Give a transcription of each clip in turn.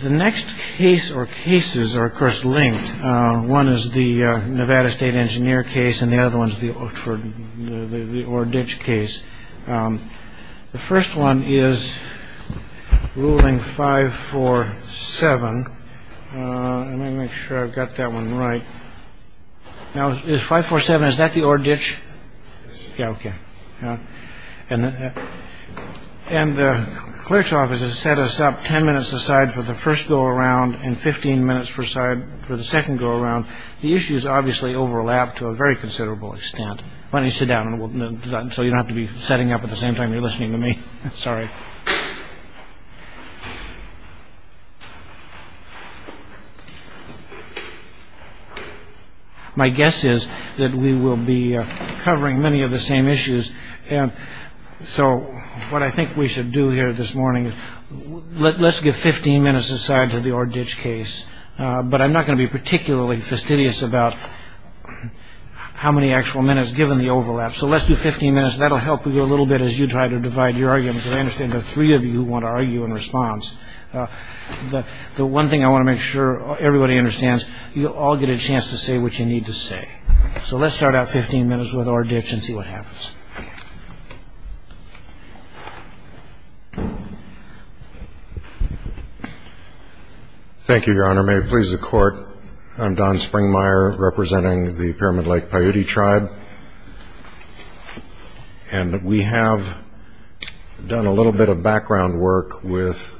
The next case or cases are, of course, linked. One is the Nevada State Engineer case, and the other one is the ORR Ditch case. The first one is ruling 547. Let me make sure I've got that one right. Now, is 547, is that the ORR Ditch? Yeah, okay. And the clerk's office has set us up 10 minutes a side for the first go around and 15 minutes per side for the second go around. The issues obviously overlap to a very considerable extent. Why don't you sit down so you don't have to be setting up at the same time you're listening to me. Sorry. My guess is that we will be covering many of the same issues. And so what I think we should do here this morning, let's give 15 minutes aside to the ORR Ditch case. But I'm not going to be particularly fastidious about how many actual minutes given the overlap. So let's do 15 minutes, and that will help you a little bit as you try to divide your arguments. I understand there are three of you who want to argue in response. The one thing I want to make sure everybody understands, you all get a chance to say what you need to say. So let's start out 15 minutes with ORR Ditch and see what happens. Thank you, Your Honor. May it please the Court, I'm Don Springmeyer representing the Pyramid Lake Paiute Tribe. And we have done a little bit of background work with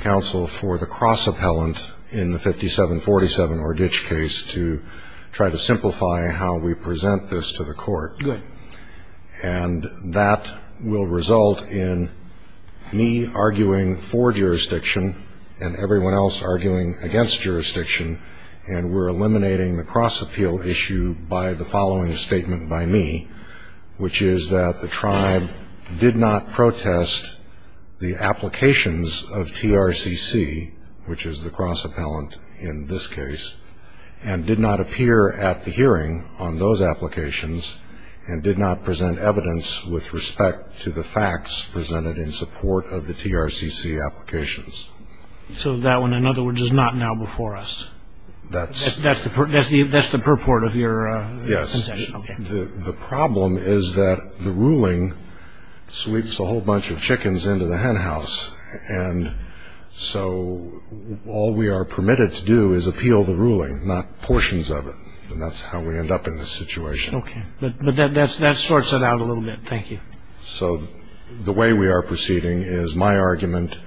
counsel for the cross-appellant in the 5747 ORR Ditch case to try to simplify how we present this to the Court. Good. And that will result in me arguing for jurisdiction and everyone else arguing against jurisdiction, and we're eliminating the cross-appeal issue by the following statement by me, which is that the tribe did not protest the applications of TRCC, which is the cross-appellant in this case, and did not appear at the hearing on those applications and did not present evidence with respect to the facts presented in support of the TRCC applications. So that one, in other words, is not now before us. That's the purport of your concession. Yes. The problem is that the ruling sweeps a whole bunch of chickens into the hen house, and so all we are permitted to do is appeal the ruling, not portions of it, and that's how we end up in this situation. Okay. But that sorts it out a little bit. Thank you. So the way we are proceeding is my argument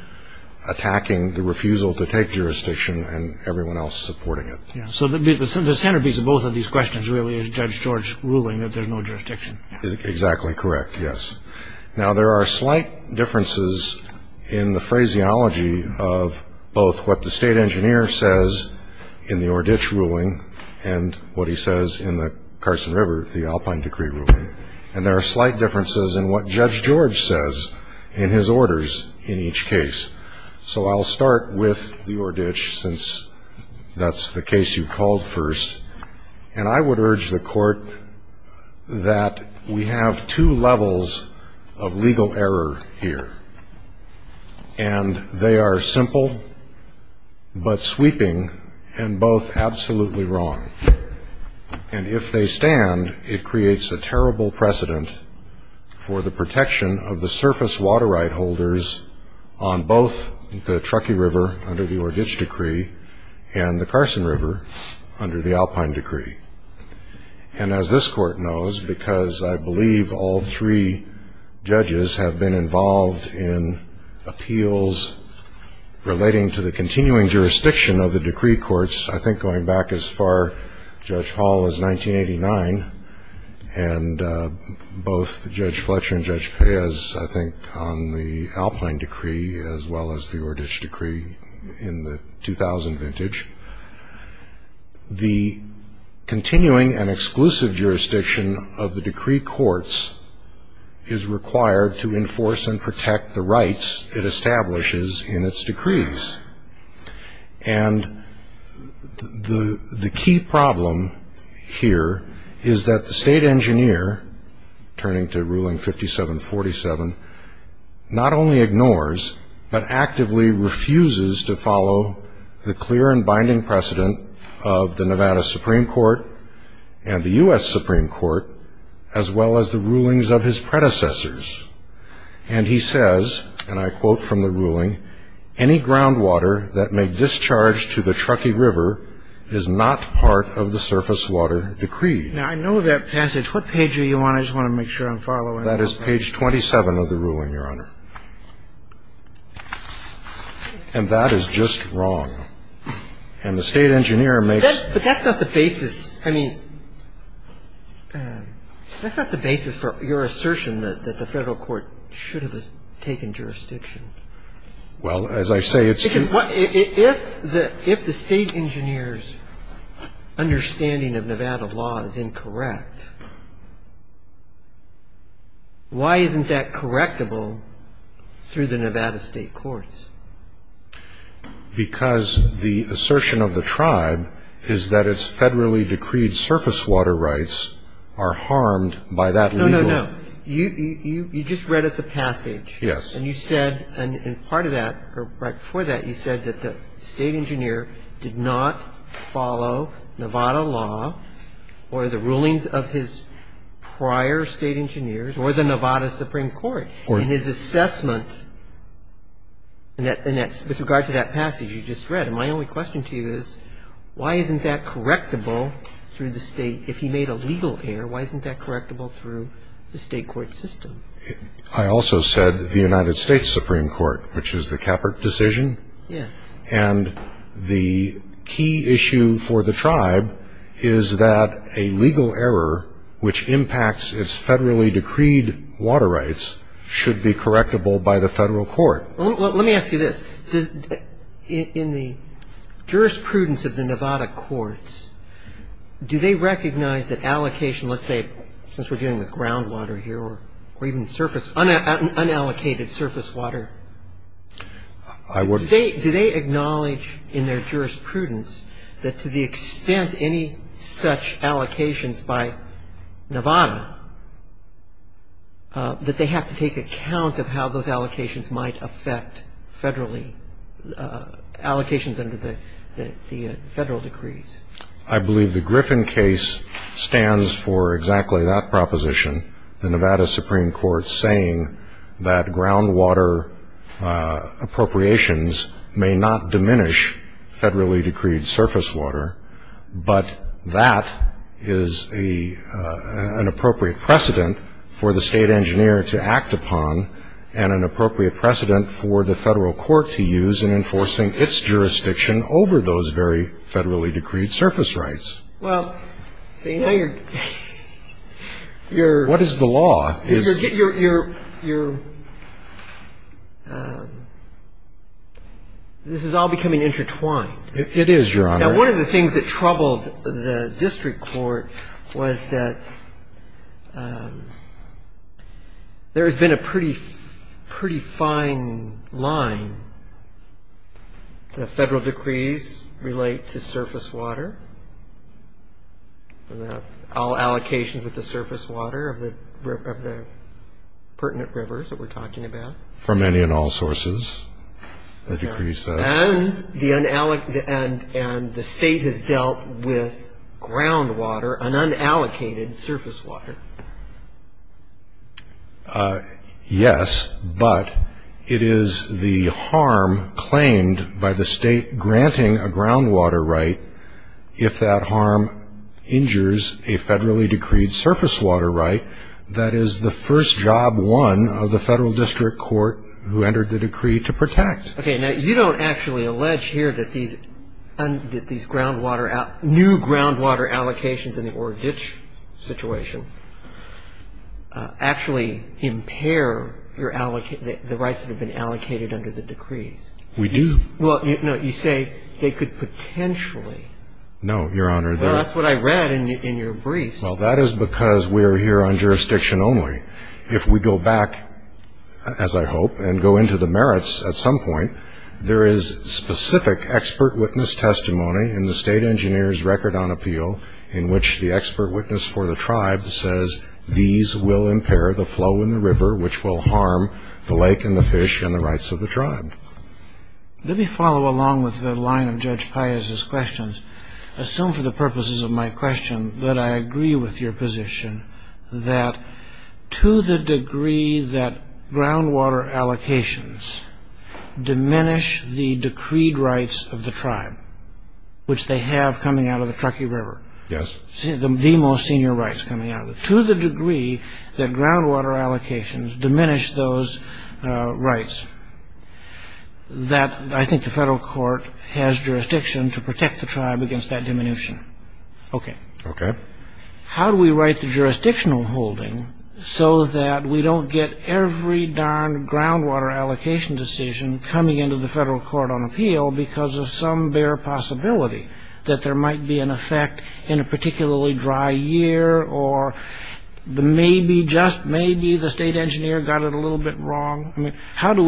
attacking the refusal to take jurisdiction and everyone else supporting it. So the centerpiece of both of these questions really is Judge George ruling that there's no jurisdiction. Exactly correct, yes. Now, there are slight differences in the phraseology of both what the state engineer says in the Ordich ruling and what he says in the Carson River, the Alpine Decree ruling, and there are slight differences in what Judge George says in his orders in each case. So I'll start with the Ordich, since that's the case you called first, and I would urge the court that we have two levels of legal error here, and they are simple but sweeping and both absolutely wrong, and if they stand, it creates a terrible precedent for the protection of the surface water right holders on both the Truckee River under the Ordich Decree and the Carson River under the Alpine Decree. And as this court knows, because I believe all three judges have been involved in appeals relating to the continuing jurisdiction of the decree courts, I think going back as far, Judge Hall, as 1989, and both Judge Fletcher and Judge Perez, I think, on the Alpine Decree as well as the Ordich Decree in the 2000 vintage, the continuing and exclusive jurisdiction of the decree courts is required to enforce and protect the rights it establishes in its decrees, and the key problem here is that the state engineer, turning to ruling 5747, not only ignores but actively refuses to follow the clear and binding precedent of the Nevada Supreme Court and the U.S. Supreme Court as well as the rulings of his predecessors, and he says, and I quote from the ruling, Now, I know that passage. What page are you on? I just want to make sure I'm following. That is page 27 of the ruling, Your Honor, and that is just wrong, and the state engineer makes. But that's not the basis. I mean, that's not the basis for your assertion that the federal court should have taken jurisdiction. Well, as I say, it's. If the state engineer's understanding of Nevada law is incorrect, why isn't that correctable through the Nevada state courts? Because the assertion of the tribe is that its federally decreed surface water rights are harmed by that legal. No, no, no. You just read us a passage, and you said, and part of that, or right before that, you said that the state engineer did not follow Nevada law or the rulings of his prior state engineers or the Nevada Supreme Court, and his assessment with regard to that passage you just read. And my only question to you is, why isn't that correctable through the state? If he made a legal error, why isn't that correctable through the state court system? I also said the United States Supreme Court, which is the Capert decision. And the key issue for the tribe is that a legal error, which impacts its federally decreed water rights, should be correctable by the federal court. Let me ask you this. In the jurisprudence of the Nevada courts, do they recognize that allocation, let's say, since we're dealing with groundwater here, or even surface, unallocated surface water? Do they acknowledge in their jurisprudence that to the extent any such allocations by Nevada, that they have to take account of how those allocations might affect federally allocations under the federal decrees? I believe the Griffin case stands for exactly that proposition, the Nevada Supreme Court saying that groundwater appropriations may not diminish federally decreed surface water, but that is an appropriate precedent for the state engineer to act upon, and an appropriate precedent for the federal court to use in enforcing its jurisdiction over those very federally decreed surface rights. Well, so you know you're, you're. What is the law? You're, you're, you're, this is all becoming intertwined. It is, Your Honor. Now, one of the things that troubled the district court was that there has been a pretty, pretty fine line. The federal decrees relate to surface water, all allocations with the surface water of the, of the pertinent rivers that we're talking about. For many and all sources, the decrees. And the state has dealt with groundwater, an unallocated surface water. Yes, but it is the harm claimed by the state granting a groundwater right if that harm injures a federally decreed surface water right that is the first job won of the federal district court who entered the decree to protect. Okay. Now, you don't actually allege here that these, that these groundwater, new groundwater allocations in the Ore Ditch situation actually impair your, the rights that have been allocated under the decrees. We do. Well, no, you say they could potentially. No, Your Honor. Well, that's what I read in your brief. Well, that is because we're here on jurisdiction only. If we go back, as I hope, and go into the merits at some point, there is specific expert witness testimony in the state engineer's record on appeal in which the expert witness for the tribe says these will impair the flow in the river which will harm the lake and the fish and the rights of the tribe. Let me follow along with the line of Judge Pius's questions. Assume for the purposes of my question that I agree with your position that to the degree that groundwater allocations diminish the decreed rights of the tribe, which they have coming out of the Truckee River. Yes. The most senior rights coming out of it. To the degree that groundwater allocations diminish those rights, that I think the federal court has jurisdiction to protect the tribe against that diminution. Okay. Okay. How do we write the jurisdictional holding so that we don't get every darn groundwater allocation decision coming into the federal court on appeal because of some bare possibility that there might be an effect in a particularly dry year or maybe just maybe the state engineer got it a little bit wrong? I mean, how do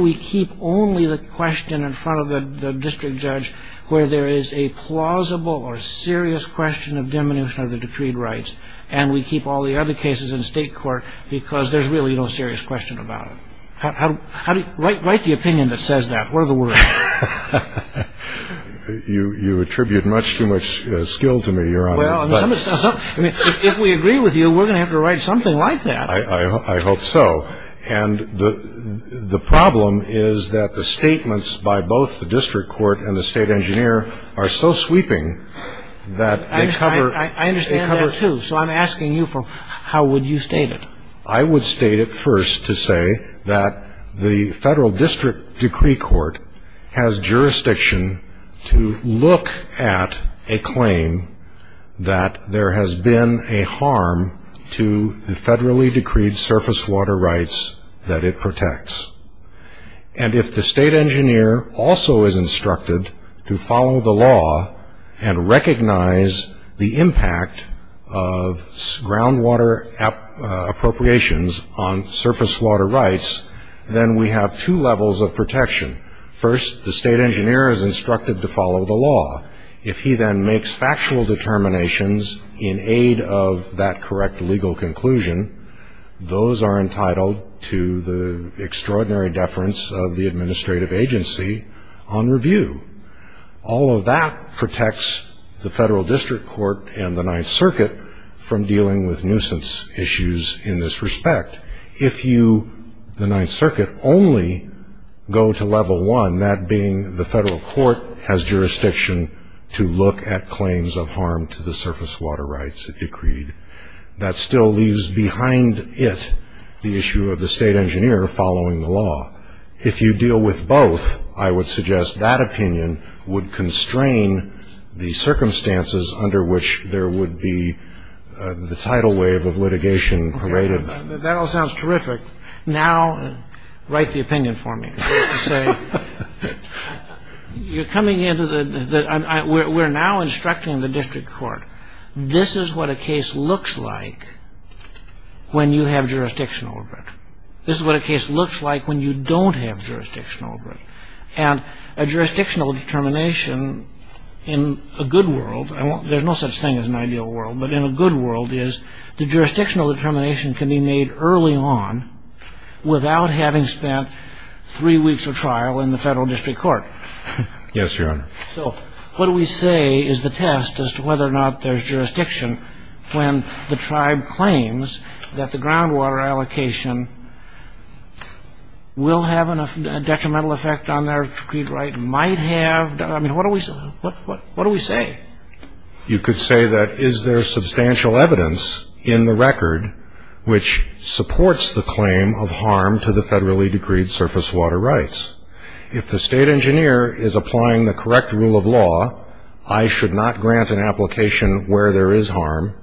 we keep only the question in front of the district judge where there is a plausible or serious question of diminution of the decreed rights and we keep all the other cases in state court because there's really no serious question about it? Write the opinion that says that. What are the words? You attribute much too much skill to me, Your Honor. Well, if we agree with you, we're going to have to write something like that. I hope so. And the problem is that the statements by both the district court and the state engineer are so sweeping that they cover. I understand that, too. So I'm asking you, how would you state it? I would state it first to say that the federal district decree court has jurisdiction to look at a claim that there has been a harm to the federally decreed surface water rights that it protects. And if the state engineer also is instructed to follow the law and recognize the impact of groundwater appropriations on surface water rights, then we have two levels of protection. First, the state engineer is instructed to follow the law. If he then makes factual determinations in aid of that correct legal conclusion, those are entitled to the extraordinary deference of the administrative agency on review. All of that protects the federal district court and the Ninth Circuit from dealing with nuisance issues in this respect. If you, the Ninth Circuit, only go to level one, that being the federal court has jurisdiction to look at claims of harm to the surface water rights it decreed, that still leaves behind it the issue of the state engineer following the law. If you deal with both, I would suggest that opinion would constrain the circumstances under which there would be the tidal wave of litigation paraded. That all sounds terrific. Now, write the opinion for me. We're now instructing the district court, this is what a case looks like when you have jurisdictional over it. This is what a case looks like when you don't have jurisdictional over it. And a jurisdictional determination in a good world, there's no such thing as an ideal world, but in a good world is the jurisdictional determination can be made early on without having spent three weeks of trial in the federal district court. Yes, Your Honor. So what do we say is the test as to whether or not there's jurisdiction when the tribe claims that the groundwater allocation will have a detrimental effect on their right, might have, I mean, what do we say? You could say that is there substantial evidence in the record which supports the claim of harm to the federally decreed surface water rights. If the state engineer is applying the correct rule of law, I should not grant an application where there is harm,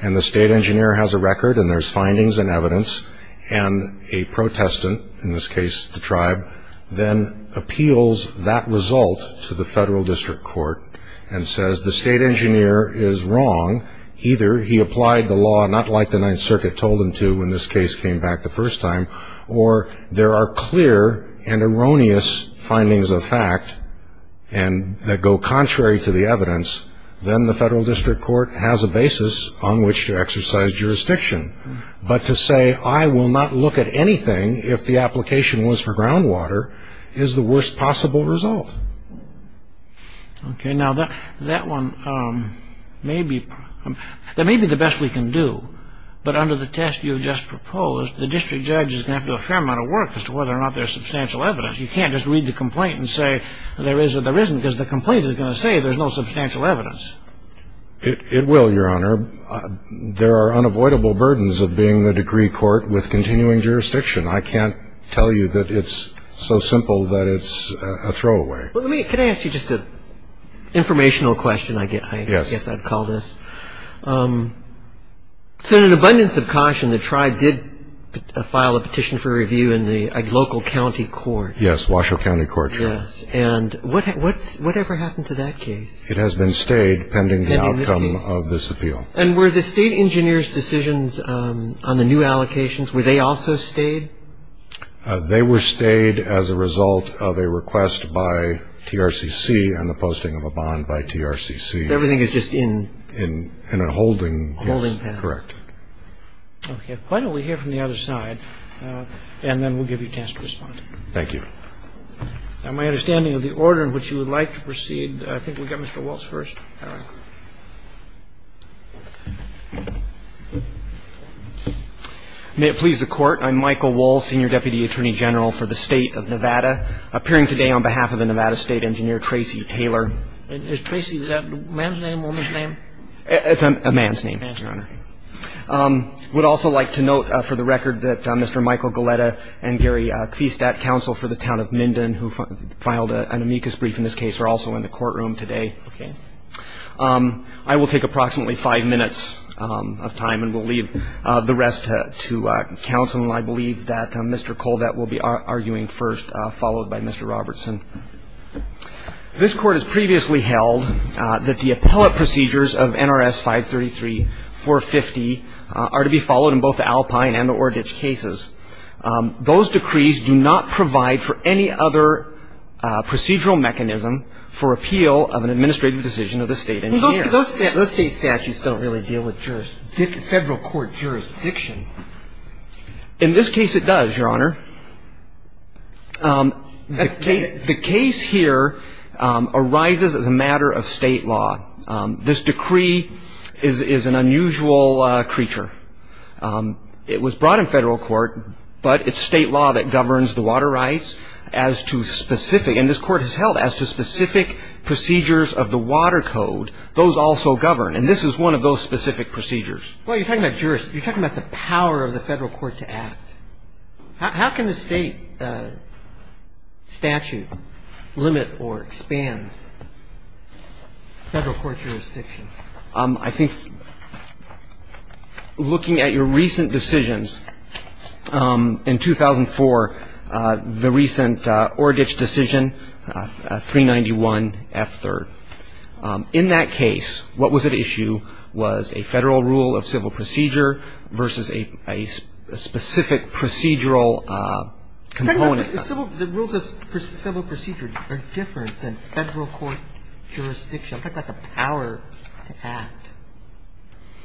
and the state engineer has a record and there's findings and evidence, and a protestant, in this case the tribe, then appeals that result to the federal district court and says the state engineer is wrong, either he applied the law not like the Ninth Circuit told him to when this case came back the first time, or there are clear and erroneous findings of fact that go contrary to the evidence, then the federal district court has a basis on which to exercise jurisdiction. But to say I will not look at anything if the application was for groundwater is the worst possible result. Okay. Now, that one may be the best we can do, but under the test you have just proposed, the district judge is going to have to do a fair amount of work as to whether or not there's substantial evidence. You can't just read the complaint and say there is or there isn't, because the complaint is going to say there's no substantial evidence. It will, Your Honor. There are unavoidable burdens of being the decree court with continuing jurisdiction. I can't tell you that it's so simple that it's a throwaway. Can I ask you just an informational question? Yes. I guess I'd call this. So in an abundance of caution, the tribe did file a petition for review in a local county court. Yes, Washoe County Court. Yes. And whatever happened to that case? It has been stayed pending the outcome of this appeal. And were the state engineer's decisions on the new allocations, were they also stayed? They were stayed as a result of a request by TRCC on the posting of a bond by TRCC. Everything is just in? In a holding. A holding. Correct. Okay. Why don't we hear from the other side, and then we'll give you a chance to respond. Thank you. Now, my understanding of the order in which you would like to proceed, I think we've got Mr. Waltz first. All right. May it please the Court. I'm Michael Waltz, Senior Deputy Attorney General for the State of Nevada, appearing today on behalf of the Nevada State Engineer, Tracy Taylor. Is Tracy a man's name or a woman's name? It's a man's name, Your Honor. I would also like to note for the record that Mr. Michael Galletta and Gary Kvistat, counsel for the town of Minden, who filed an amicus brief in this case, are also in the courtroom today. Okay. I will take approximately five minutes of time, and we'll leave the rest to counsel. And I believe that Mr. Colvett will be arguing first, followed by Mr. Robertson. This Court has previously held that the appellate procedures of NRS 533-450 are to be followed in both the Alpine and the Oradich cases. Those decrees do not provide for any other procedural mechanism for appeal of an administrative decision of the state engineer. Those state statutes don't really deal with federal court jurisdiction. In this case, it does, Your Honor. The case here arises as a matter of state law. This decree is an unusual creature. It was brought in federal court, but it's state law that governs the water rights as to specific And this Court has held as to specific procedures of the water code, those also govern. And this is one of those specific procedures. Well, you're talking about jurisdiction. You're talking about the power of the federal court to act. How can the state statute limit or expand federal court jurisdiction? I think looking at your recent decisions, in 2004, the recent Oradich decision, 391F3rd, in that case, what was at issue was a federal rule of civil procedure versus a specific procedural component. The rules of civil procedure are different than federal court jurisdiction. I'm talking about the power to act.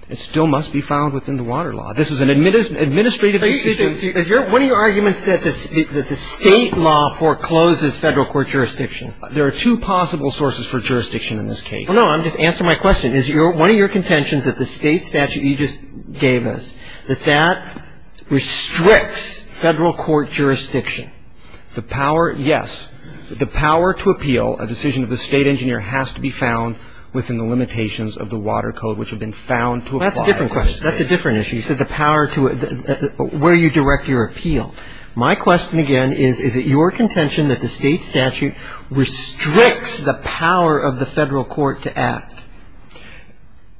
It still must be found within the water law. This is an administrative decision. Is one of your arguments that the state law forecloses federal court jurisdiction? There are two possible sources for jurisdiction in this case. Well, no, I'm just answering my question. Is one of your contentions that the state statute you just gave us, that that restricts federal court jurisdiction? The power, yes. The power to appeal a decision of the state engineer has to be found within the limitations of the water code, which have been found to apply. That's a different question. That's a different issue. You said the power to where you direct your appeal. My question, again, is, is it your contention that the state statute restricts the power of the federal court to act?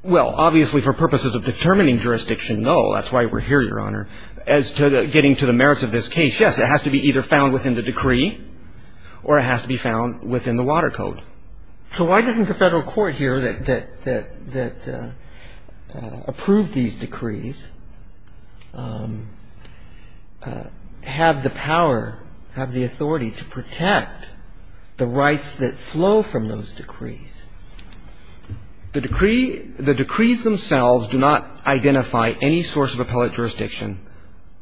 Well, obviously, for purposes of determining jurisdiction, no. That's why we're here, Your Honor. As to getting to the merits of this case, yes, it has to be either found within the statute or it has to be found within the water code. So why doesn't the federal court here that approved these decrees have the power, have the authority to protect the rights that flow from those decrees? The decree the decrees themselves do not identify any source of appellate jurisdiction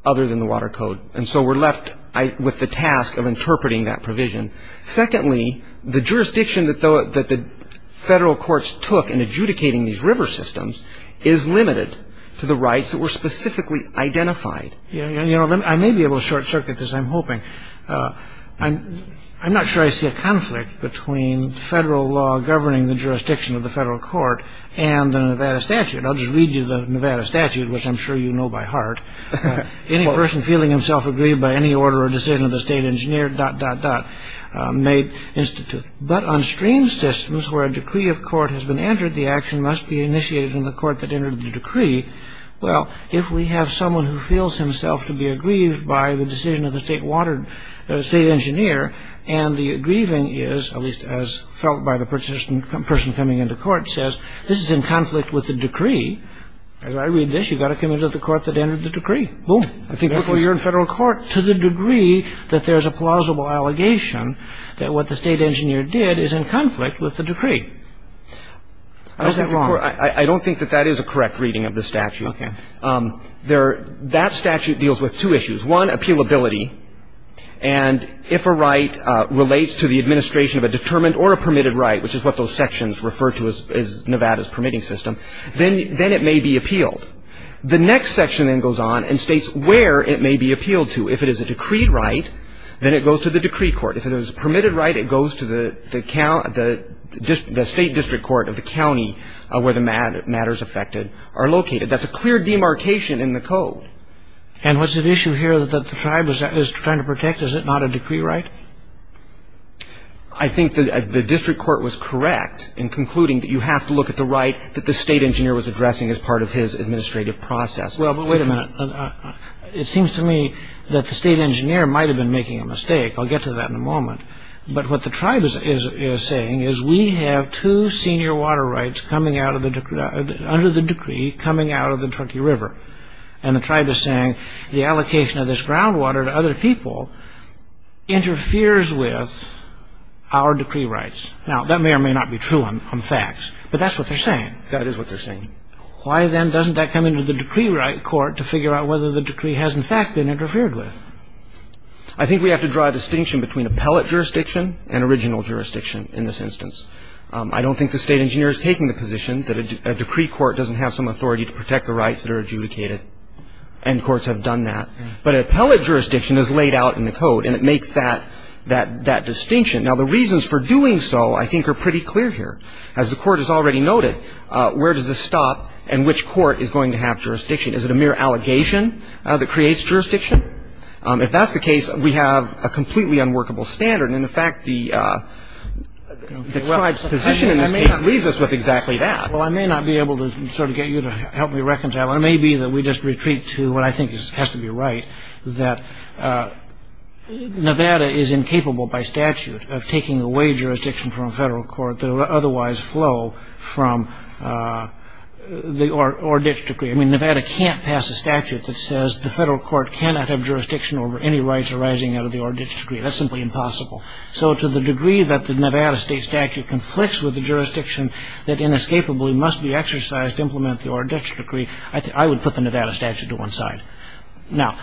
other than the water code. And so we're left with the task of interpreting that provision. Secondly, the jurisdiction that the federal courts took in adjudicating these river systems is limited to the rights that were specifically identified. I may be able to short-circuit this, I'm hoping. I'm not sure I see a conflict between federal law governing the jurisdiction of the federal court and the Nevada statute. I'll just read you the Nevada statute, which I'm sure you know by heart. Any person feeling himself aggrieved by any order or decision of the state engineer, dot, dot, dot, may institute. But on stream systems where a decree of court has been entered, the action must be initiated in the court that entered the decree. Well, if we have someone who feels himself to be aggrieved by the decision of the state engineer and the aggrieving is, at least as felt by the person coming into court, says, this is in conflict with the decree. As I read this, you've got to come into the court that entered the decree. Boom. Therefore, you're in federal court. To the degree that there's a plausible allegation that what the state engineer did is in conflict with the decree. Is that wrong? I don't think that that is a correct reading of the statute. Okay. That statute deals with two issues. One, appealability. And if a right relates to the administration of a determined or a permitted right, which is what those sections refer to as Nevada's permitting system, then it may be appealed. The next section then goes on and states where it may be appealed to. If it is a decreed right, then it goes to the decree court. If it is a permitted right, it goes to the state district court of the county where the matters affected are located. That's a clear demarcation in the code. And what's at issue here that the tribe is trying to protect? Is it not a decree right? I think the district court was correct in concluding that you have to look at the right that the state engineer was addressing as part of his administrative process. Well, but wait a minute. It seems to me that the state engineer might have been making a mistake. I'll get to that in a moment. But what the tribe is saying is we have two senior water rights under the decree coming out of the Truckee River. And the tribe is saying the allocation of this groundwater to other people interferes with our decree rights. Now, that may or may not be true on facts. But that's what they're saying. That is what they're saying. Why, then, doesn't that come into the decree right court to figure out whether the decree has, in fact, been interfered with? I think we have to draw a distinction between appellate jurisdiction and original jurisdiction in this instance. I don't think the state engineer is taking the position that a decree court doesn't have some authority to protect the rights that are adjudicated. And courts have done that. But an appellate jurisdiction is laid out in the code, and it makes that distinction. Now, the reasons for doing so I think are pretty clear here. As the court has already noted, where does this stop and which court is going to have jurisdiction? Is it a mere allegation that creates jurisdiction? If that's the case, we have a completely unworkable standard. And, in fact, the tribe's position in this case leaves us with exactly that. Well, I may not be able to sort of get you to help me reconcile. It may be that we just retreat to what I think has to be right, that Nevada is incapable by statute of taking away jurisdiction from a federal court that would otherwise flow from the Orr-Ditch decree. I mean, Nevada can't pass a statute that says the federal court cannot have jurisdiction over any rights arising out of the Orr-Ditch decree. That's simply impossible. So to the degree that the Nevada state statute conflicts with the jurisdiction that inescapably must be exercised to implement the Orr-Ditch decree, I would put the Nevada statute to one side. Now,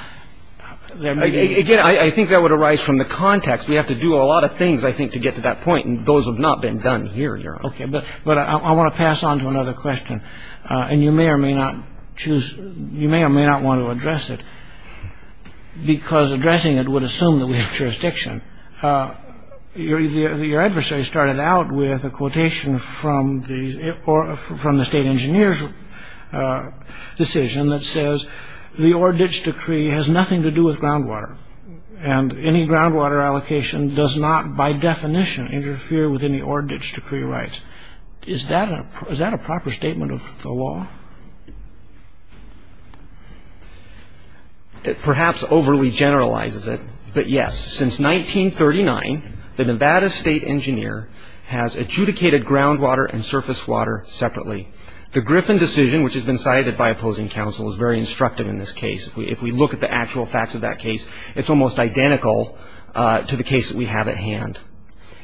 again, I think that would arise from the context. We have to do a lot of things, I think, to get to that point, and those have not been done here yet. Okay, but I want to pass on to another question, and you may or may not want to address it because addressing it would assume that we have jurisdiction. Your adversary started out with a quotation from the state engineer's decision that says the Orr-Ditch decree has nothing to do with groundwater, and any groundwater allocation does not, by definition, interfere with any Orr-Ditch decree rights. Is that a proper statement of the law? It perhaps overly generalizes it, but yes, since 1939, the Nevada state engineer has adjudicated groundwater and surface water separately. The Griffin decision, which has been cited by opposing counsel, is very instructive in this case. If we look at the actual facts of that case, it's almost identical to the case that we have at hand.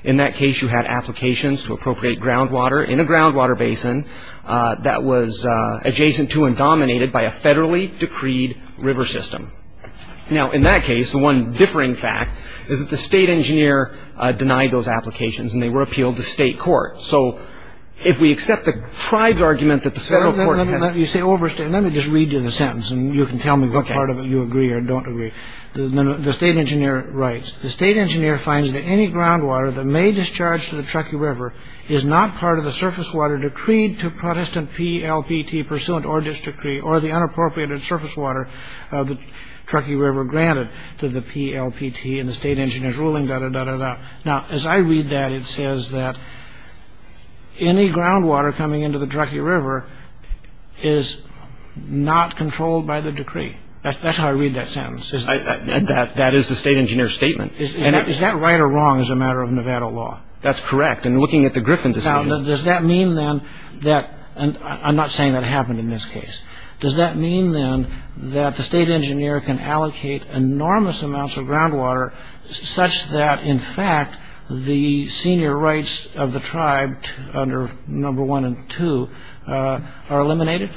In that case, you had applications to appropriate groundwater in a groundwater basin that was adjacent to and dominated by a federally-decreed river system. Now, in that case, the one differing fact is that the state engineer denied those applications, and they were appealed to state court. So if we accept the tribe's argument that the federal court had— Let me just read you the sentence, and you can tell me what part of it you agree or don't agree. The state engineer writes, the state engineer finds that any groundwater that may discharge to the Truckee River is not part of the surface water decreed to Protestant PLPT pursuant Orr-Ditch decree or the unappropriated surface water of the Truckee River granted to the PLPT, and the state engineer's ruling, da-da-da-da-da. Now, as I read that, it says that any groundwater coming into the Truckee River is not controlled by the decree. That's how I read that sentence. That is the state engineer's statement. Is that right or wrong as a matter of Nevada law? That's correct. And looking at the Griffin decision— Now, does that mean, then, that—and I'm not saying that happened in this case. Does that mean, then, that the state engineer can allocate enormous amounts of groundwater such that, in fact, the senior rights of the tribe under No. 1 and 2 are eliminated?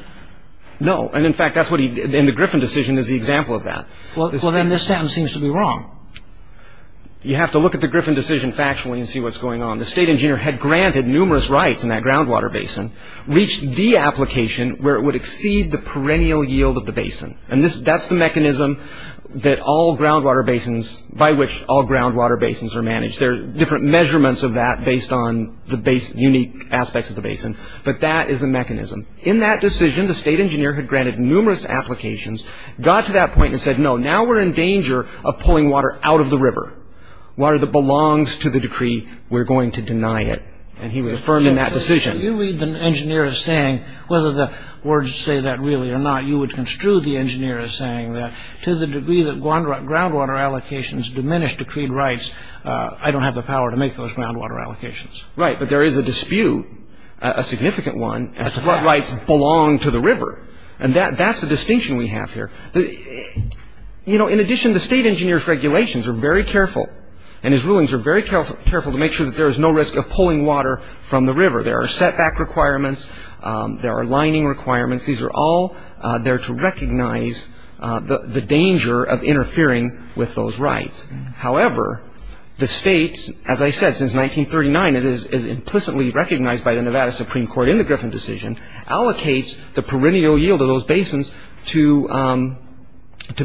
No. And, in fact, that's what he—and the Griffin decision is the example of that. Well, then, this sentence seems to be wrong. You have to look at the Griffin decision factually and see what's going on. The state engineer had granted numerous rights in that groundwater basin, reached the application where it would exceed the perennial yield of the basin. And that's the mechanism that all groundwater basins—by which all groundwater basins are managed. There are different measurements of that based on the unique aspects of the basin. But that is a mechanism. In that decision, the state engineer had granted numerous applications, got to that point and said, no, now we're in danger of pulling water out of the river, water that belongs to the decree. We're going to deny it. And he would affirm in that decision. You read the engineer as saying, whether the words say that really or not, you would construe the engineer as saying that to the degree that groundwater allocations diminish decreed rights, I don't have the power to make those groundwater allocations. Right. But there is a dispute, a significant one, as to what rights belong to the river. And that's the distinction we have here. You know, in addition, the state engineer's regulations are very careful, and his rulings are very careful to make sure that there is no risk of pulling water from the river. There are setback requirements. There are lining requirements. These are all there to recognize the danger of interfering with those rights. However, the states, as I said, since 1939, it is implicitly recognized by the Nevada Supreme Court in the Griffin decision, allocates the perennial yield of those basins to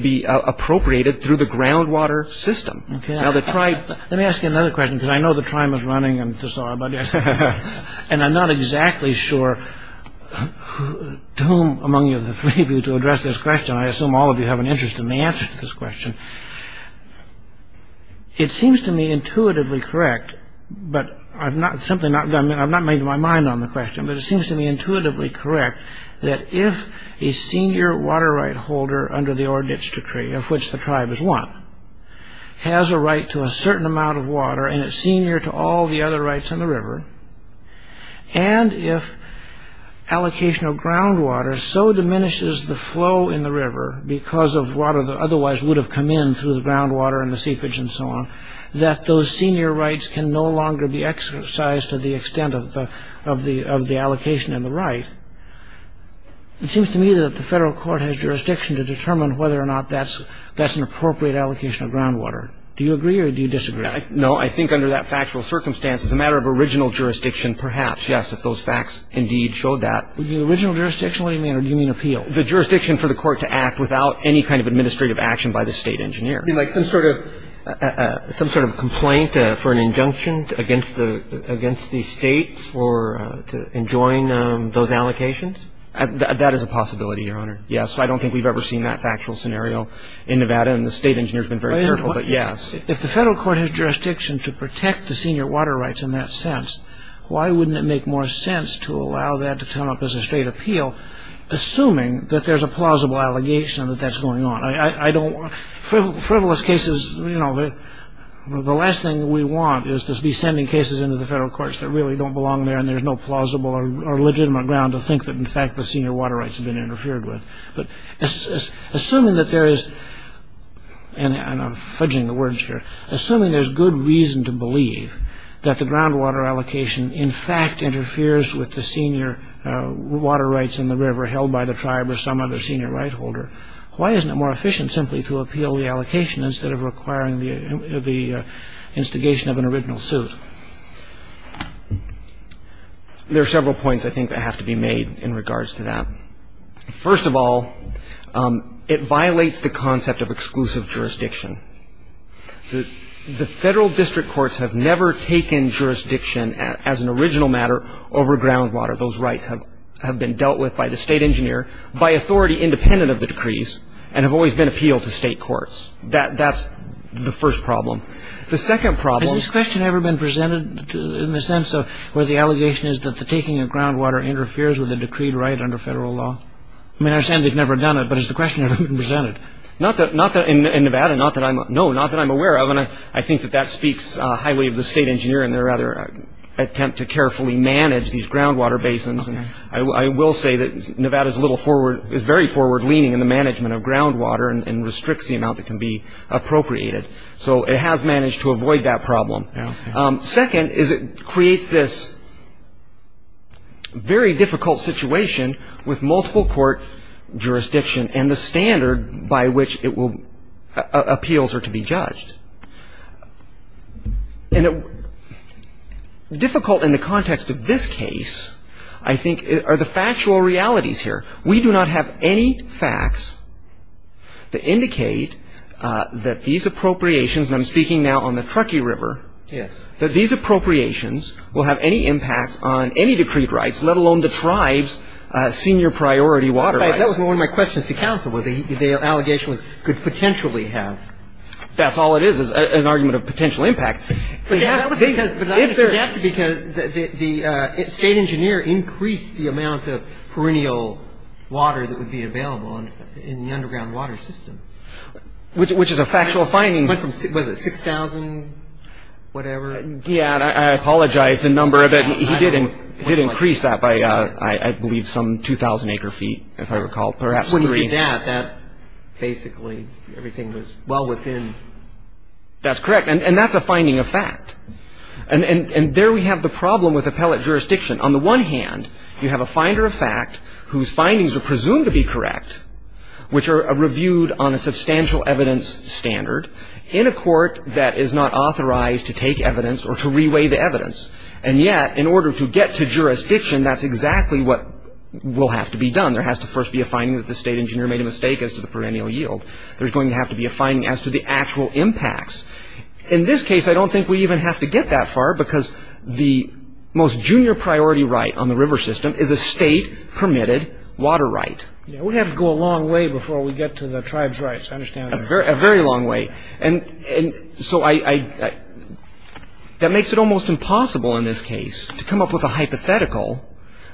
be appropriated through the groundwater system. Okay. Now, the tribe – Let me ask you another question because I know the time is running. I'm sorry about that. And I'm not exactly sure to whom among you, the three of you, to address this question. I assume all of you have an interest in the answer to this question. It seems to me intuitively correct, but I've not made my mind on the question, but it seems to me intuitively correct that if a senior water right holder under the Orr-Ditch Decree, of which the tribe is one, has a right to a certain amount of water and it's senior to all the other rights in the river, and if allocation of groundwater so diminishes the flow in the river because of water that otherwise would have come in through the groundwater and the seepage and so on, that those senior rights can no longer be exercised to the extent of the allocation in the right, it seems to me that the federal court has jurisdiction to determine whether or not that's an appropriate allocation of groundwater. Do you agree or do you disagree? No, I think under that factual circumstance, as a matter of original jurisdiction, perhaps, yes, if those facts indeed showed that. The original jurisdiction? What do you mean? Or do you mean appeal? The jurisdiction for the court to act without any kind of administrative action by the state engineer. You mean like some sort of complaint for an injunction against the state for enjoying those allocations? That is a possibility, Your Honor, yes. I don't think we've ever seen that factual scenario in Nevada, and the state engineer's been very careful, but yes. If the federal court has jurisdiction to protect the senior water rights in that sense, why wouldn't it make more sense to allow that to come up as a state appeal, assuming that there's a plausible allegation that that's going on? Frivolous cases, you know, the last thing we want is to be sending cases into the federal courts that really don't belong there and there's no plausible or legitimate ground to think that, in fact, the senior water rights have been interfered with. But assuming that there is, and I'm fudging the words here, assuming there's good reason to believe that the groundwater allocation, in fact, interferes with the senior water rights in the river held by the tribe or some other senior right holder, why isn't it more efficient simply to appeal the allocation instead of requiring the instigation of an original suit? There are several points, I think, that have to be made in regards to that. First of all, it violates the concept of exclusive jurisdiction. The federal district courts have never taken jurisdiction as an original matter over groundwater. Those rights have been dealt with by the state engineer, by authority independent of the decrees, and have always been appealed to state courts. That's the first problem. Has this question ever been presented in the sense of where the allegation is that the taking of groundwater interferes with a decreed right under federal law? I mean, I understand they've never done it, but has the question ever been presented? Not that in Nevada, no, not that I'm aware of. I think that that speaks highly of the state engineer in their attempt to carefully manage these groundwater basins. I will say that Nevada is very forward-leaning in the management of groundwater and restricts the amount that can be appropriated. So it has managed to avoid that problem. Second is it creates this very difficult situation with multiple court jurisdiction and the standard by which appeals are to be judged. And difficult in the context of this case, I think, are the factual realities here. We do not have any facts that indicate that these appropriations, and I'm speaking now on the Truckee River, that these appropriations will have any impact on any decreed rights, let alone the tribe's senior priority water rights. That was one of my questions to counsel, what the allegation could potentially have. That's all it is, is an argument of potential impact. But that's because the state engineer increased the amount of perennial water that would be available in the underground water system. Which is a factual finding. Was it 6,000, whatever? Yeah, and I apologize, the number of it, he did increase that by, I believe, some 2,000 acre feet, if I recall, perhaps 3. When you did that, that basically, everything was well within. That's correct, and that's a finding of fact. And there we have the problem with appellate jurisdiction. On the one hand, you have a finder of fact whose findings are presumed to be correct, which are reviewed on a substantial evidence standard, in a court that is not authorized to take evidence or to reweigh the evidence. And yet, in order to get to jurisdiction, that's exactly what will have to be done. There has to first be a finding that the state engineer made a mistake as to the perennial yield. There's going to have to be a finding as to the actual impacts. In this case, I don't think we even have to get that far, because the most junior priority right on the river system is a state-permitted water right. Yeah, we have to go a long way before we get to the tribes' rights, I understand that. A very long way. And so, that makes it almost impossible in this case to come up with a hypothetical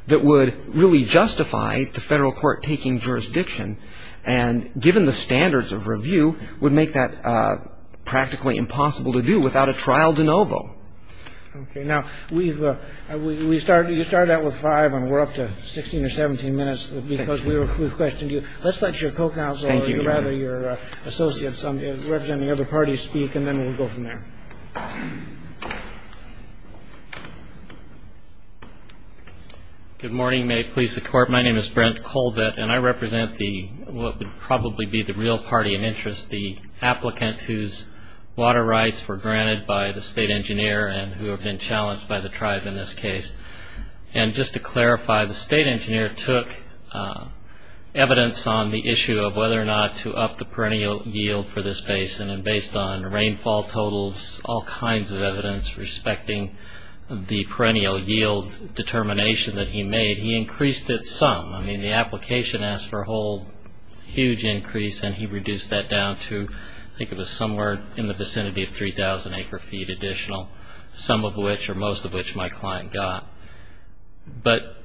that would really justify the federal court taking jurisdiction. And given the standards of review, would make that practically impossible to do without a trial de novo. Okay. Now, we've started out with five, and we're up to 16 or 17 minutes, because we've questioned you. Let's let your co-counselor, or rather your associates representing other parties speak, and then we'll go from there. Good morning. May it please the Court. My name is Brent Colvett, and I represent what would probably be the real party in interest, the applicant whose water rights were granted by the state engineer and who have been challenged by the tribe in this case. And just to clarify, the state engineer took evidence on the issue of whether or not to up the perennial yield for this basin, and based on rainfall totals, all kinds of evidence respecting the perennial yield determination that he made, he increased it some. I mean, the application asked for a whole huge increase, and he reduced that down to, I think it was somewhere in the vicinity of 3,000 acre feet additional, some of which or most of which my client got. But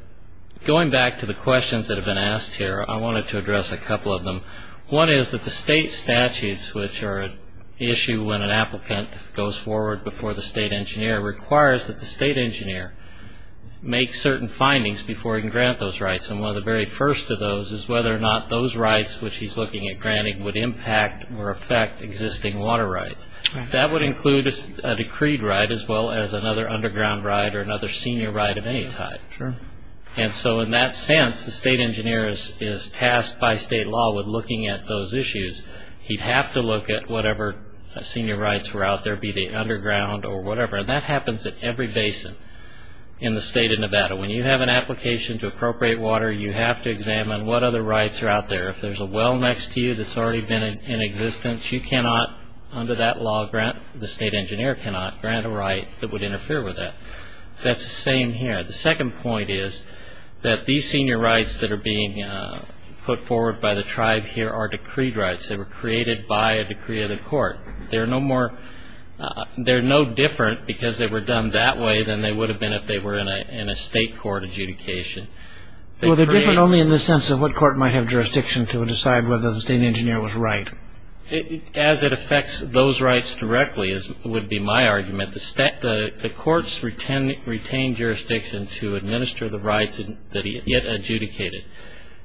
going back to the questions that have been asked here, I wanted to address a couple of them. One is that the state statutes, which are an issue when an applicant goes forward before the state engineer, requires that the state engineer make certain findings before he can grant those rights. And one of the very first of those is whether or not those rights which he's looking at granting would impact or affect existing water rights. That would include a decreed right as well as another underground right or another senior right of any type. And so in that sense, the state engineer is tasked by state law with looking at those issues. He'd have to look at whatever senior rights were out there, be they underground or whatever. And that happens at every basin in the state of Nevada. When you have an application to appropriate water, you have to examine what other rights are out there. If there's a well next to you that's already been in existence, you cannot, under that law, grant, the state engineer cannot grant a right that would interfere with that. That's the same here. The second point is that these senior rights that are being put forward by the tribe here are decreed rights. They were created by a decree of the court. They're no different because they were done that way than they would have been if they were in a state court adjudication. Well, they're different only in the sense of what court might have jurisdiction to decide whether the state engineer was right. As it affects those rights directly would be my argument. The courts retain jurisdiction to administer the rights that he had adjudicated.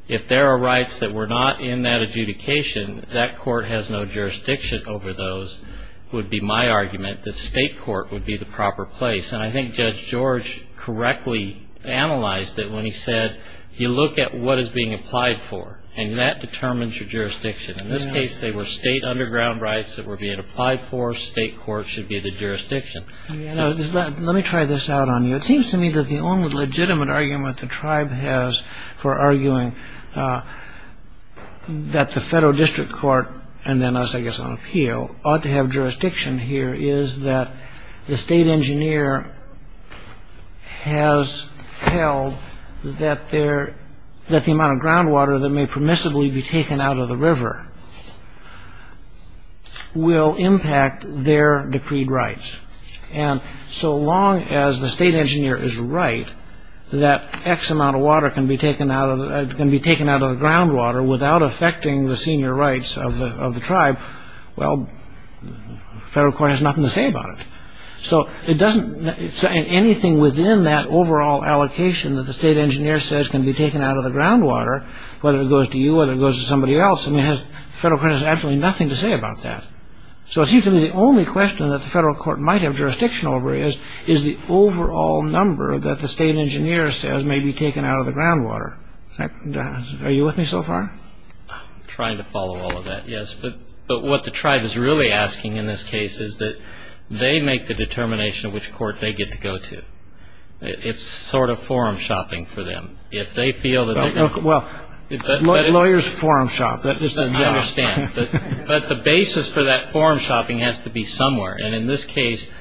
If there are rights that were not in that adjudication, that court has no jurisdiction over those would be my argument, that state court would be the proper place. And I think Judge George correctly analyzed it when he said, you look at what is being applied for, and that determines your jurisdiction. In this case, they were state underground rights that were being applied for. State court should be the jurisdiction. Let me try this out on you. It seems to me that the only legitimate argument the tribe has for arguing that the federal district court, and then us, I guess, on appeal, ought to have jurisdiction here is that the state engineer has held that the amount of groundwater that may permissibly be taken out of the river will impact their decreed rights. And so long as the state engineer is right that X amount of water can be taken out of the groundwater without affecting the senior rights of the tribe, well, federal court has nothing to say about it. So anything within that overall allocation that the state engineer says can be taken out of the groundwater, whether it goes to you, whether it goes to somebody else, federal court has absolutely nothing to say about that. So it seems to me the only question that the federal court might have jurisdiction over is the overall number that the state engineer says may be taken out of the groundwater. Are you with me so far? I'm trying to follow all of that, yes. But what the tribe is really asking in this case is that they make the determination of which court they get to go to. It's sort of forum shopping for them. Well, lawyers forum shop. I understand. But the basis for that forum shopping has to be somewhere. And in this case,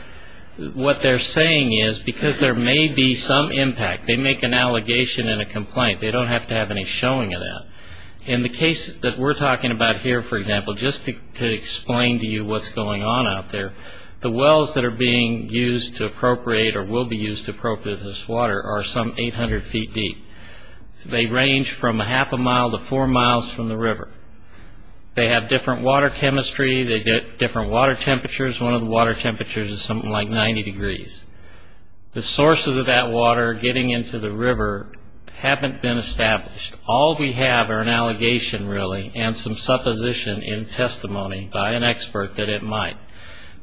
what they're saying is because there may be some impact, they make an allegation and a complaint. They don't have to have any showing of that. In the case that we're talking about here, for example, just to explain to you what's going on out there, the wells that are being used to appropriate or will be used to appropriate this water are some 800 feet deep. They range from a half a mile to four miles from the river. They have different water chemistry. They get different water temperatures. One of the water temperatures is something like 90 degrees. The sources of that water getting into the river haven't been established. All we have are an allegation, really, and some supposition in testimony by an expert that it might.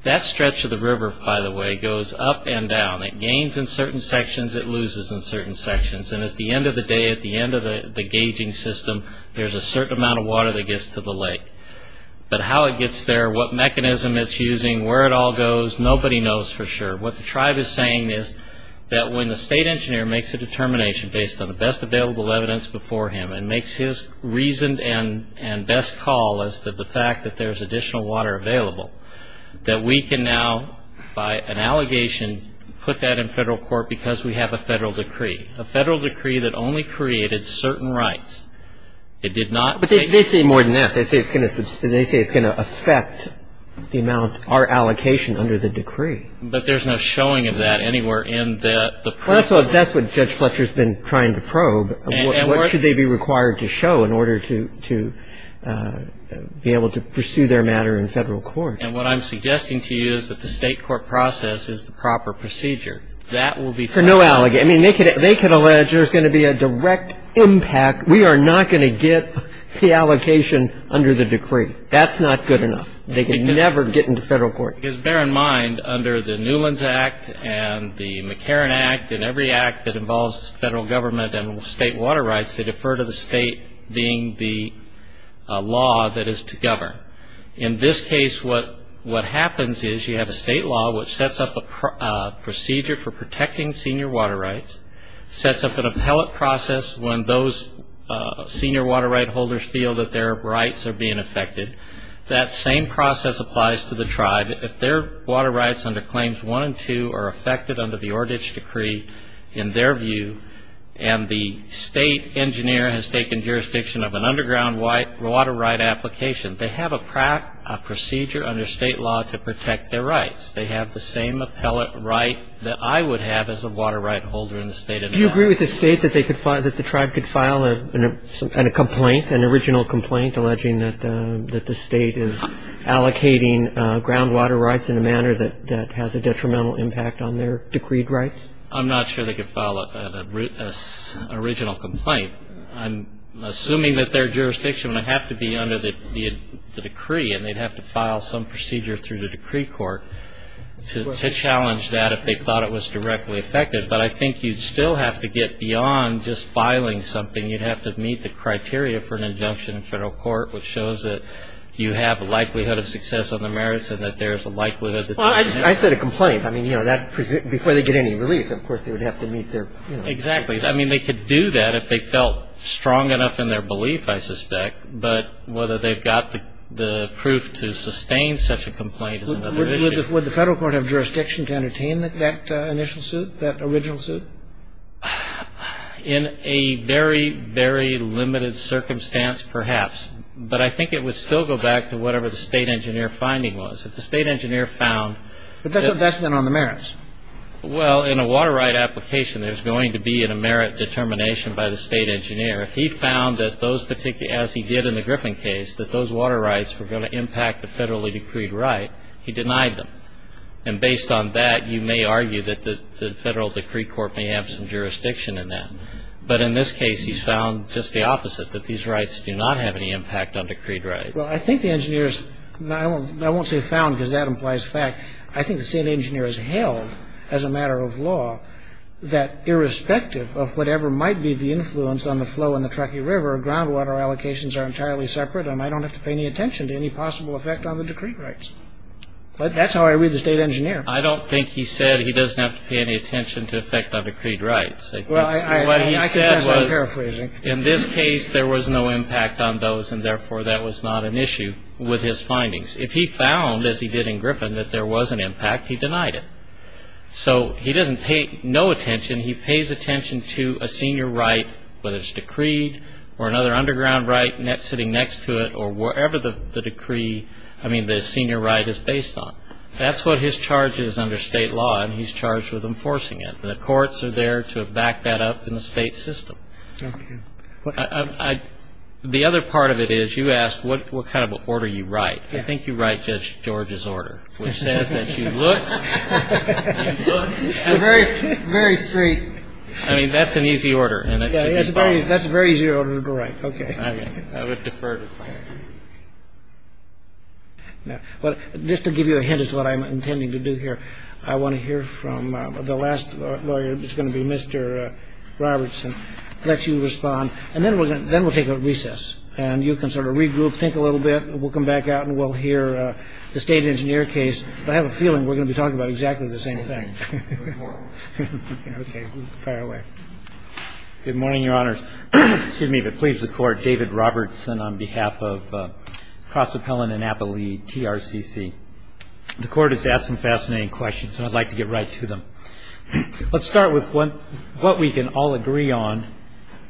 That stretch of the river, by the way, goes up and down. It gains in certain sections. It loses in certain sections. And at the end of the day, at the end of the gauging system, there's a certain amount of water that gets to the lake. But how it gets there, what mechanism it's using, where it all goes, nobody knows for sure. What the tribe is saying is that when the state engineer makes a determination based on the best available evidence before him and makes his reasoned and best call as to the fact that there's additional water available, that we can now, by an allegation, put that in federal court because we have a federal decree, a federal decree that only created certain rights. It did not take certain rights. But they say more than that. They say it's going to affect the amount, our allocation under the decree. But there's no showing of that anywhere in the proof. Well, that's what Judge Fletcher's been trying to probe. What should they be required to show in order to be able to pursue their matter in federal court? And what I'm suggesting to you is that the state court process is the proper procedure. That will be federal. For no allegation. I mean, they could allege there's going to be a direct impact. We are not going to get the allocation under the decree. That's not good enough. They can never get into federal court. Because bear in mind, under the Newlands Act and the McCarran Act and every act that involves federal government and state water rights, they defer to the state being the law that is to govern. In this case, what happens is you have a state law which sets up a procedure for protecting senior water rights, sets up an appellate process when those senior water right holders feel that their rights are being affected. That same process applies to the tribe. If their water rights under Claims 1 and 2 are affected under the Ordage Decree, in their view, and the state engineer has taken jurisdiction of an underground water right application, they have a procedure under state law to protect their rights. They have the same appellate right that I would have as a water right holder in the state of New England. Do you agree with the state that the tribe could file a complaint, an original complaint, alleging that the state is allocating groundwater rights in a manner that has a detrimental impact on their decreed rights? I'm not sure they could file an original complaint. I'm assuming that their jurisdiction would have to be under the decree and they'd have to file some procedure through the decree court to challenge that if they thought it was directly affected. But I think you'd still have to get beyond just filing something. You'd have to meet the criteria for an injunction in federal court which shows that you have a likelihood of success on the merits and that there's a likelihood that there is. Well, I said a complaint. I mean, you know, before they get any relief, of course, they would have to meet their, you know. Exactly. I mean, they could do that if they felt strong enough in their belief, I suspect. But whether they've got the proof to sustain such a complaint is another issue. Would the federal court have jurisdiction to entertain that initial suit, that original suit? In a very, very limited circumstance, perhaps. But I think it would still go back to whatever the state engineer finding was. If the state engineer found that. But that's not on the merits. Well, in a water right application, there's going to be a merit determination by the state engineer. If he found that those particular, as he did in the Griffin case, that those water rights were going to impact the federally decreed right, he denied them. And based on that, you may argue that the federal decree court may have some jurisdiction in that. But in this case, he's found just the opposite, that these rights do not have any impact on decreed rights. Well, I think the engineers, and I won't say found because that implies fact, I think the state engineer has held, as a matter of law, that irrespective of whatever might be the influence on the flow in the Truckee River, groundwater allocations are entirely separate, and I don't have to pay any attention to any possible effect on the decreed rights. That's how I read the state engineer. I don't think he said he doesn't have to pay any attention to effect on decreed rights. What he said was, in this case, there was no impact on those, and therefore that was not an issue with his findings. If he found, as he did in Griffin, that there was an impact, he denied it. So he doesn't pay no attention, he pays attention to a senior right, whether it's decreed or another underground right sitting next to it, or wherever the decree, I mean, the senior right is based on. That's what his charge is under state law, and he's charged with enforcing it. The courts are there to back that up in the state system. The other part of it is, you asked what kind of order you write. I think you write Judge George's order, which says that you look and you look. Very straight. I mean, that's an easy order, and it should be followed. That's a very easy order to write. Okay. I would defer to the client. Just to give you a hint as to what I'm intending to do here, I want to hear from the last lawyer, who's going to be Mr. Robertson, let you respond, and then we'll take a recess, and you can sort of regroup, think a little bit, and we'll come back out, and we'll hear the state engineer case. I have a feeling we're going to be talking about exactly the same thing. Okay. Fire away. Good morning, Your Honors. Excuse me, but please, the Court. David Robertson on behalf of Cross Appellant and Appellee, TRCC. The Court has asked some fascinating questions, and I'd like to get right to them. Let's start with what we can all agree on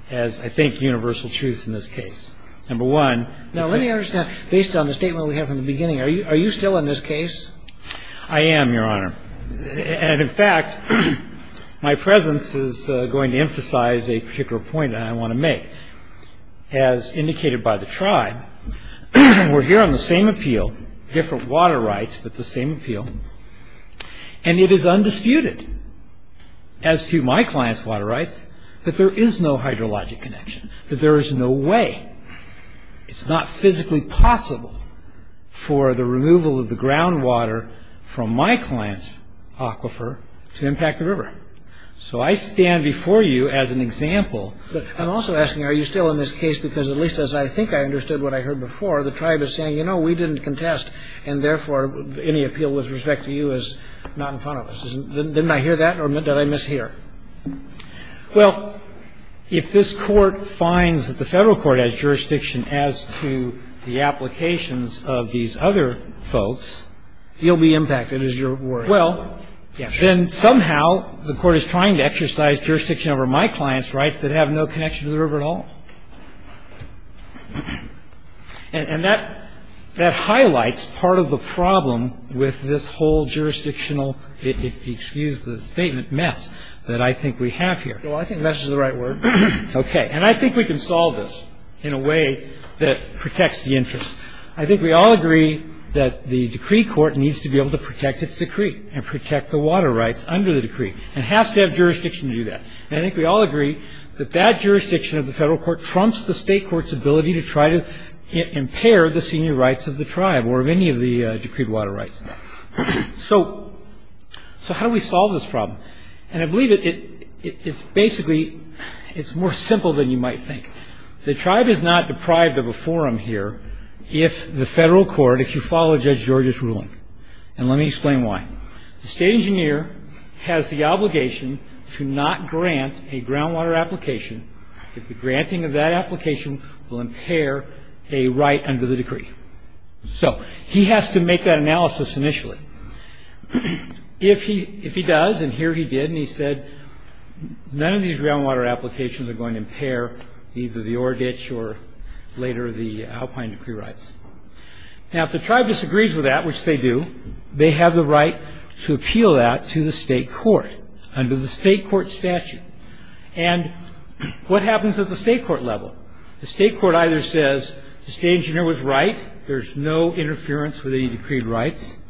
as, I think, universal truth in this case. Number one. Now, let me understand, based on the statement we had from the beginning, are you still in this case? I am, Your Honor. And, in fact, my presence is going to emphasize a particular point that I want to make. As indicated by the tribe, we're here on the same appeal, different water rights, but the same appeal, and it is undisputed as to my client's water rights that there is no hydrologic connection, that there is no way, it's not physically possible for the removal of the groundwater from my client's aquifer to impact the river. So I stand before you as an example. I'm also asking, are you still in this case? Because, at least as I think I understood what I heard before, the tribe is saying, you know, we didn't contest, and, therefore, any appeal with respect to you is not in front of us. Didn't I hear that, or did I mishear? Well, if this Court finds that the Federal Court has jurisdiction as to the applications of these other folks, you'll be impacted, is your worry. Well, then somehow the Court is trying to exercise jurisdiction over my client's rights that have no connection to the river at all. And that highlights part of the problem with this whole jurisdictional statement mess that I think we have here. Well, I think mess is the right word. Okay. And I think we can solve this in a way that protects the interests. I think we all agree that the decree court needs to be able to protect its decree and protect the water rights under the decree and has to have jurisdiction to do that. And I think we all agree that that jurisdiction of the Federal Court trumps the State Court's ability to try to impair the senior rights of the tribe or of any of the decreed water rights. So how do we solve this problem? And I believe it's basically, it's more simple than you might think. The tribe is not deprived of a forum here if the Federal Court, if you follow Judge George's ruling. And let me explain why. The State Engineer has the obligation to not grant a groundwater application if the granting of that application will impair a right under the decree. So he has to make that analysis initially. If he does, and here he did, and he said none of these groundwater applications are going to impair either the ore ditch or later the alpine decree rights. Now if the tribe disagrees with that, which they do, they have the right to appeal that to the State Court under the State Court statute. And what happens at the State Court level? The State Court either says the State Engineer was right, there's no interference with any decreed rights.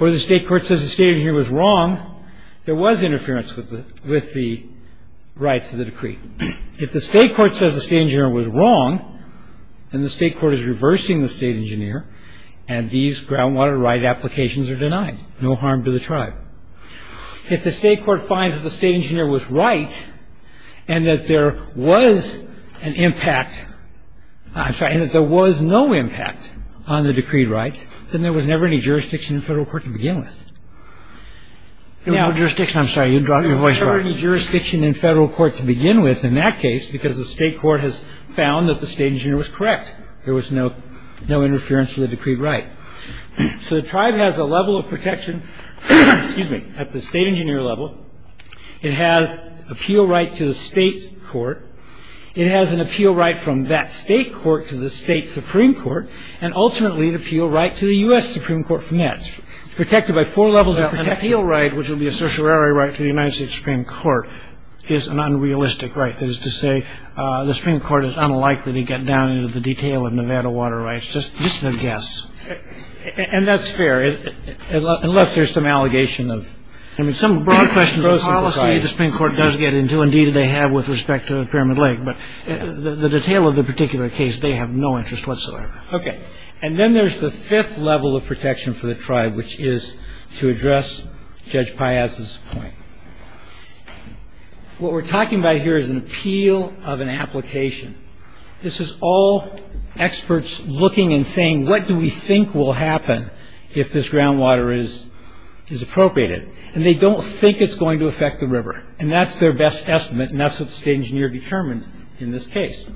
Or the State Court says the State Engineer was wrong, there was interference with the rights of the decree. If the State Court says the State Engineer was wrong, then the State Court is reversing the State Engineer and these groundwater right applications are denied, no harm to the tribe. If the State Court finds that the State Engineer was right and that there was an impact, I'm sorry, and that there was no impact on the decreed rights, then there was never any jurisdiction in federal court to begin with. Now... There was no jurisdiction, I'm sorry, you dropped your voice. There was never any jurisdiction in federal court to begin with in that case because the State Court has found that the State Engineer was correct. There was no interference with the decreed right. So the tribe has a level of protection, excuse me, at the State Engineer level. It has appeal right to the State Court. It has an appeal right from that State Court to the State Supreme Court and ultimately an appeal right to the U.S. Supreme Court from that. Protected by four levels of protection. An appeal right, which would be a certiorari right to the United States Supreme Court, is an unrealistic right. That is to say, the Supreme Court is unlikely to get down into the detail of Nevada water rights. Just a guess. And that's fair, unless there's some allegation of... I mean, some broad questions of policy the Supreme Court does get into, indeed they have with respect to Pyramid Lake, but the detail of the particular case they have no interest whatsoever. Okay. And then there's the fifth level of protection for the tribe, which is to address Judge Piazza's point. What we're talking about here is an appeal of an application. This is all experts looking and saying, what do we think will happen if this groundwater is appropriated? And they don't think it's going to affect the river. And that's their best estimate, and that's what the State Engineer determined in this case.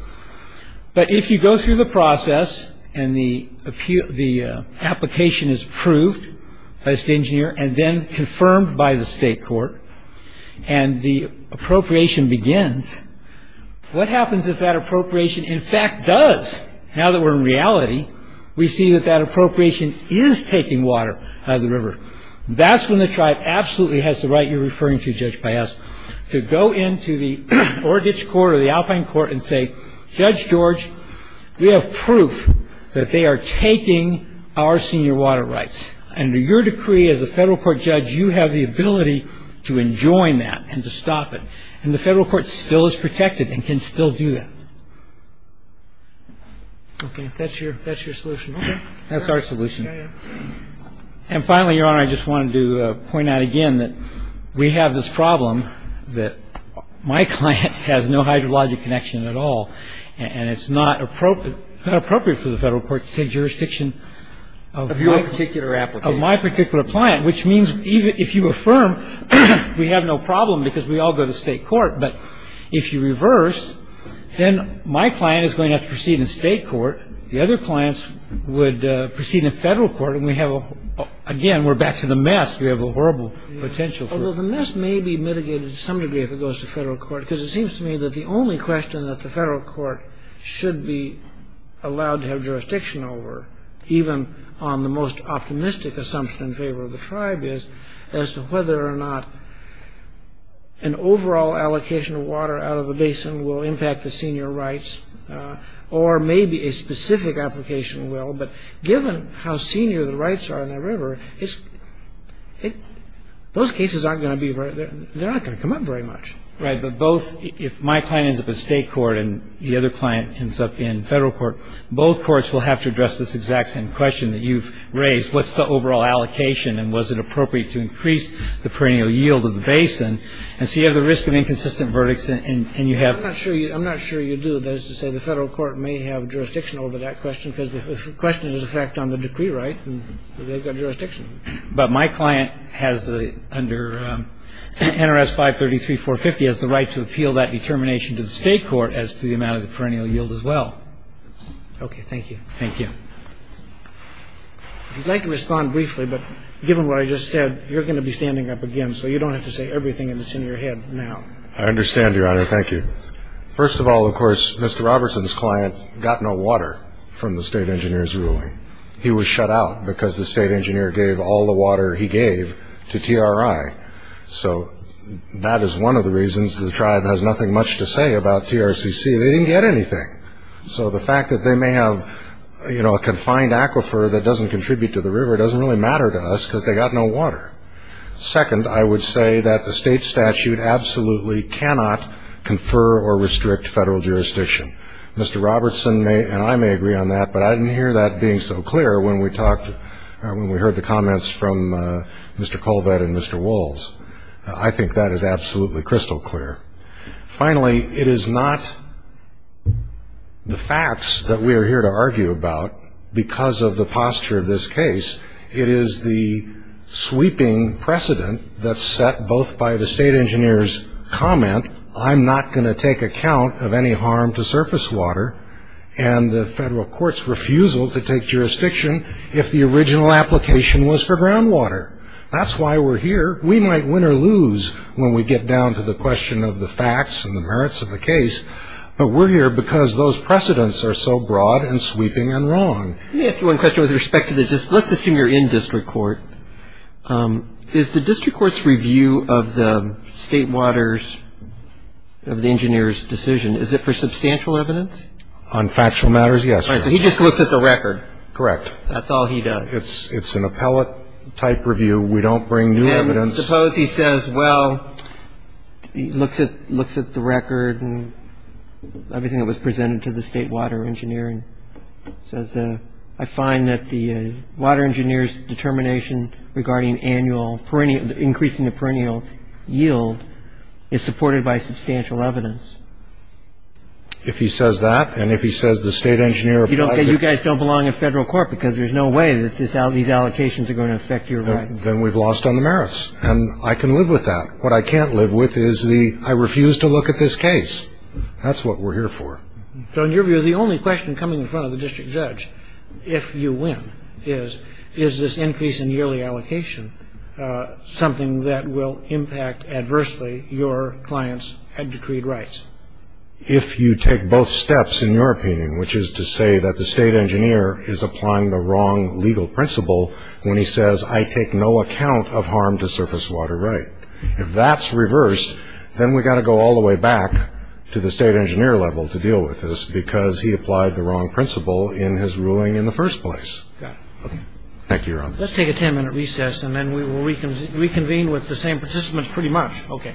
But if you go through the process and the application is approved by the State Engineer and then confirmed by the State Court and the appropriation begins, what happens is that appropriation, in fact, does. Now that we're in reality, we see that that appropriation is taking water out of the river. That's when the tribe absolutely has the right you're referring to, Judge Piazza, to go into the Orangish Court or the Alpine Court and say, Judge George, we have proof that they are taking our senior water rights. Under your decree as a federal court judge, you have the ability to enjoin that and to stop it. And the federal court still is protected and can still do that. Okay, that's your solution. That's our solution. And finally, Your Honor, I just wanted to point out again that we have this problem that my client has no hydrologic connection at all, and it's not appropriate for the federal court to take jurisdiction of my particular client, which means if you affirm we have no problem because we all go to state court, but if you reverse, then my client is going to have to proceed in state court. The other clients would proceed in federal court. Again, we're back to the mess. We have a horrible potential for it. Although the mess may be mitigated to some degree if it goes to federal court because it seems to me that the only question that the federal court should be allowed to have jurisdiction over, even on the most optimistic assumption in favor of the tribe, is as to whether or not an overall allocation of water out of the basin will impact the senior rights or maybe a specific application will. But given how senior the rights are in the river, those cases aren't going to come up very much. Right, but if my client ends up in state court and the other client ends up in federal court, both courts will have to address this exact same question that you've raised. What's the overall allocation and was it appropriate to increase the perennial yield of the basin? And so you have the risk of inconsistent verdicts and you have to. I'm not sure you do. That is to say the federal court may have jurisdiction over that question because the question is in fact on the decree right and they've got jurisdiction. But my client has under NRS 533-450 has the right to appeal that determination to the state court as to the amount of the perennial yield as well. Okay. Thank you. Thank you. If you'd like to respond briefly, but given what I just said, you're going to be standing up again so you don't have to say everything that's in your head now. I understand, Your Honor. Thank you. First of all, of course, Mr. Robertson's client got no water from the state engineer's ruling. He was shut out because the state engineer gave all the water he gave to TRI. So that is one of the reasons the tribe has nothing much to say about TRCC. They didn't get anything. So the fact that they may have, you know, a confined aquifer that doesn't contribute to the river doesn't really matter to us because they got no water. Second, I would say that the state statute absolutely cannot confer or restrict federal jurisdiction. Mr. Robertson and I may agree on that, but I didn't hear that being so clear when we heard the comments from Mr. Colvett and Mr. Wolls. I think that is absolutely crystal clear. Finally, it is not the facts that we are here to argue about because of the posture of this case. It is the sweeping precedent that's set both by the state engineer's comment, I'm not going to take account of any harm to surface water, and the federal court's refusal to take jurisdiction if the original application was for groundwater. That's why we're here. We might win or lose when we get down to the question of the facts and the merits of the case, but we're here because those precedents are so broad and sweeping and wrong. Let me ask you one question with respect to the district. Let's assume you're in district court. Is the district court's review of the state water's, of the engineer's decision, is it for substantial evidence? On factual matters, yes. All right. So he just looks at the record. Correct. That's all he does. It's an appellate-type review. We don't bring new evidence. And suppose he says, well, he looks at the record and everything that was presented to the state water engineer and says, I find that the water engineer's determination regarding annual, increasing the perennial yield is supported by substantial evidence. If he says that, and if he says the state engineer. You guys don't belong in federal court because there's no way that these allocations are going to affect your rights. Then we've lost on the merits, and I can live with that. What I can't live with is the, I refuse to look at this case. That's what we're here for. So in your view, the only question coming in front of the district judge, if you win, is is this increase in yearly allocation something that will impact adversely your client's decreed rights? If you take both steps, in your opinion, which is to say that the state engineer is applying the wrong legal principle when he says, I take no account of harm to surface water right. If that's reversed, then we've got to go all the way back to the state engineer level to deal with this because he applied the wrong principle in his ruling in the first place. Thank you. Let's take a 10 minute recess and then we will reconvene with the same participants pretty much. Okay.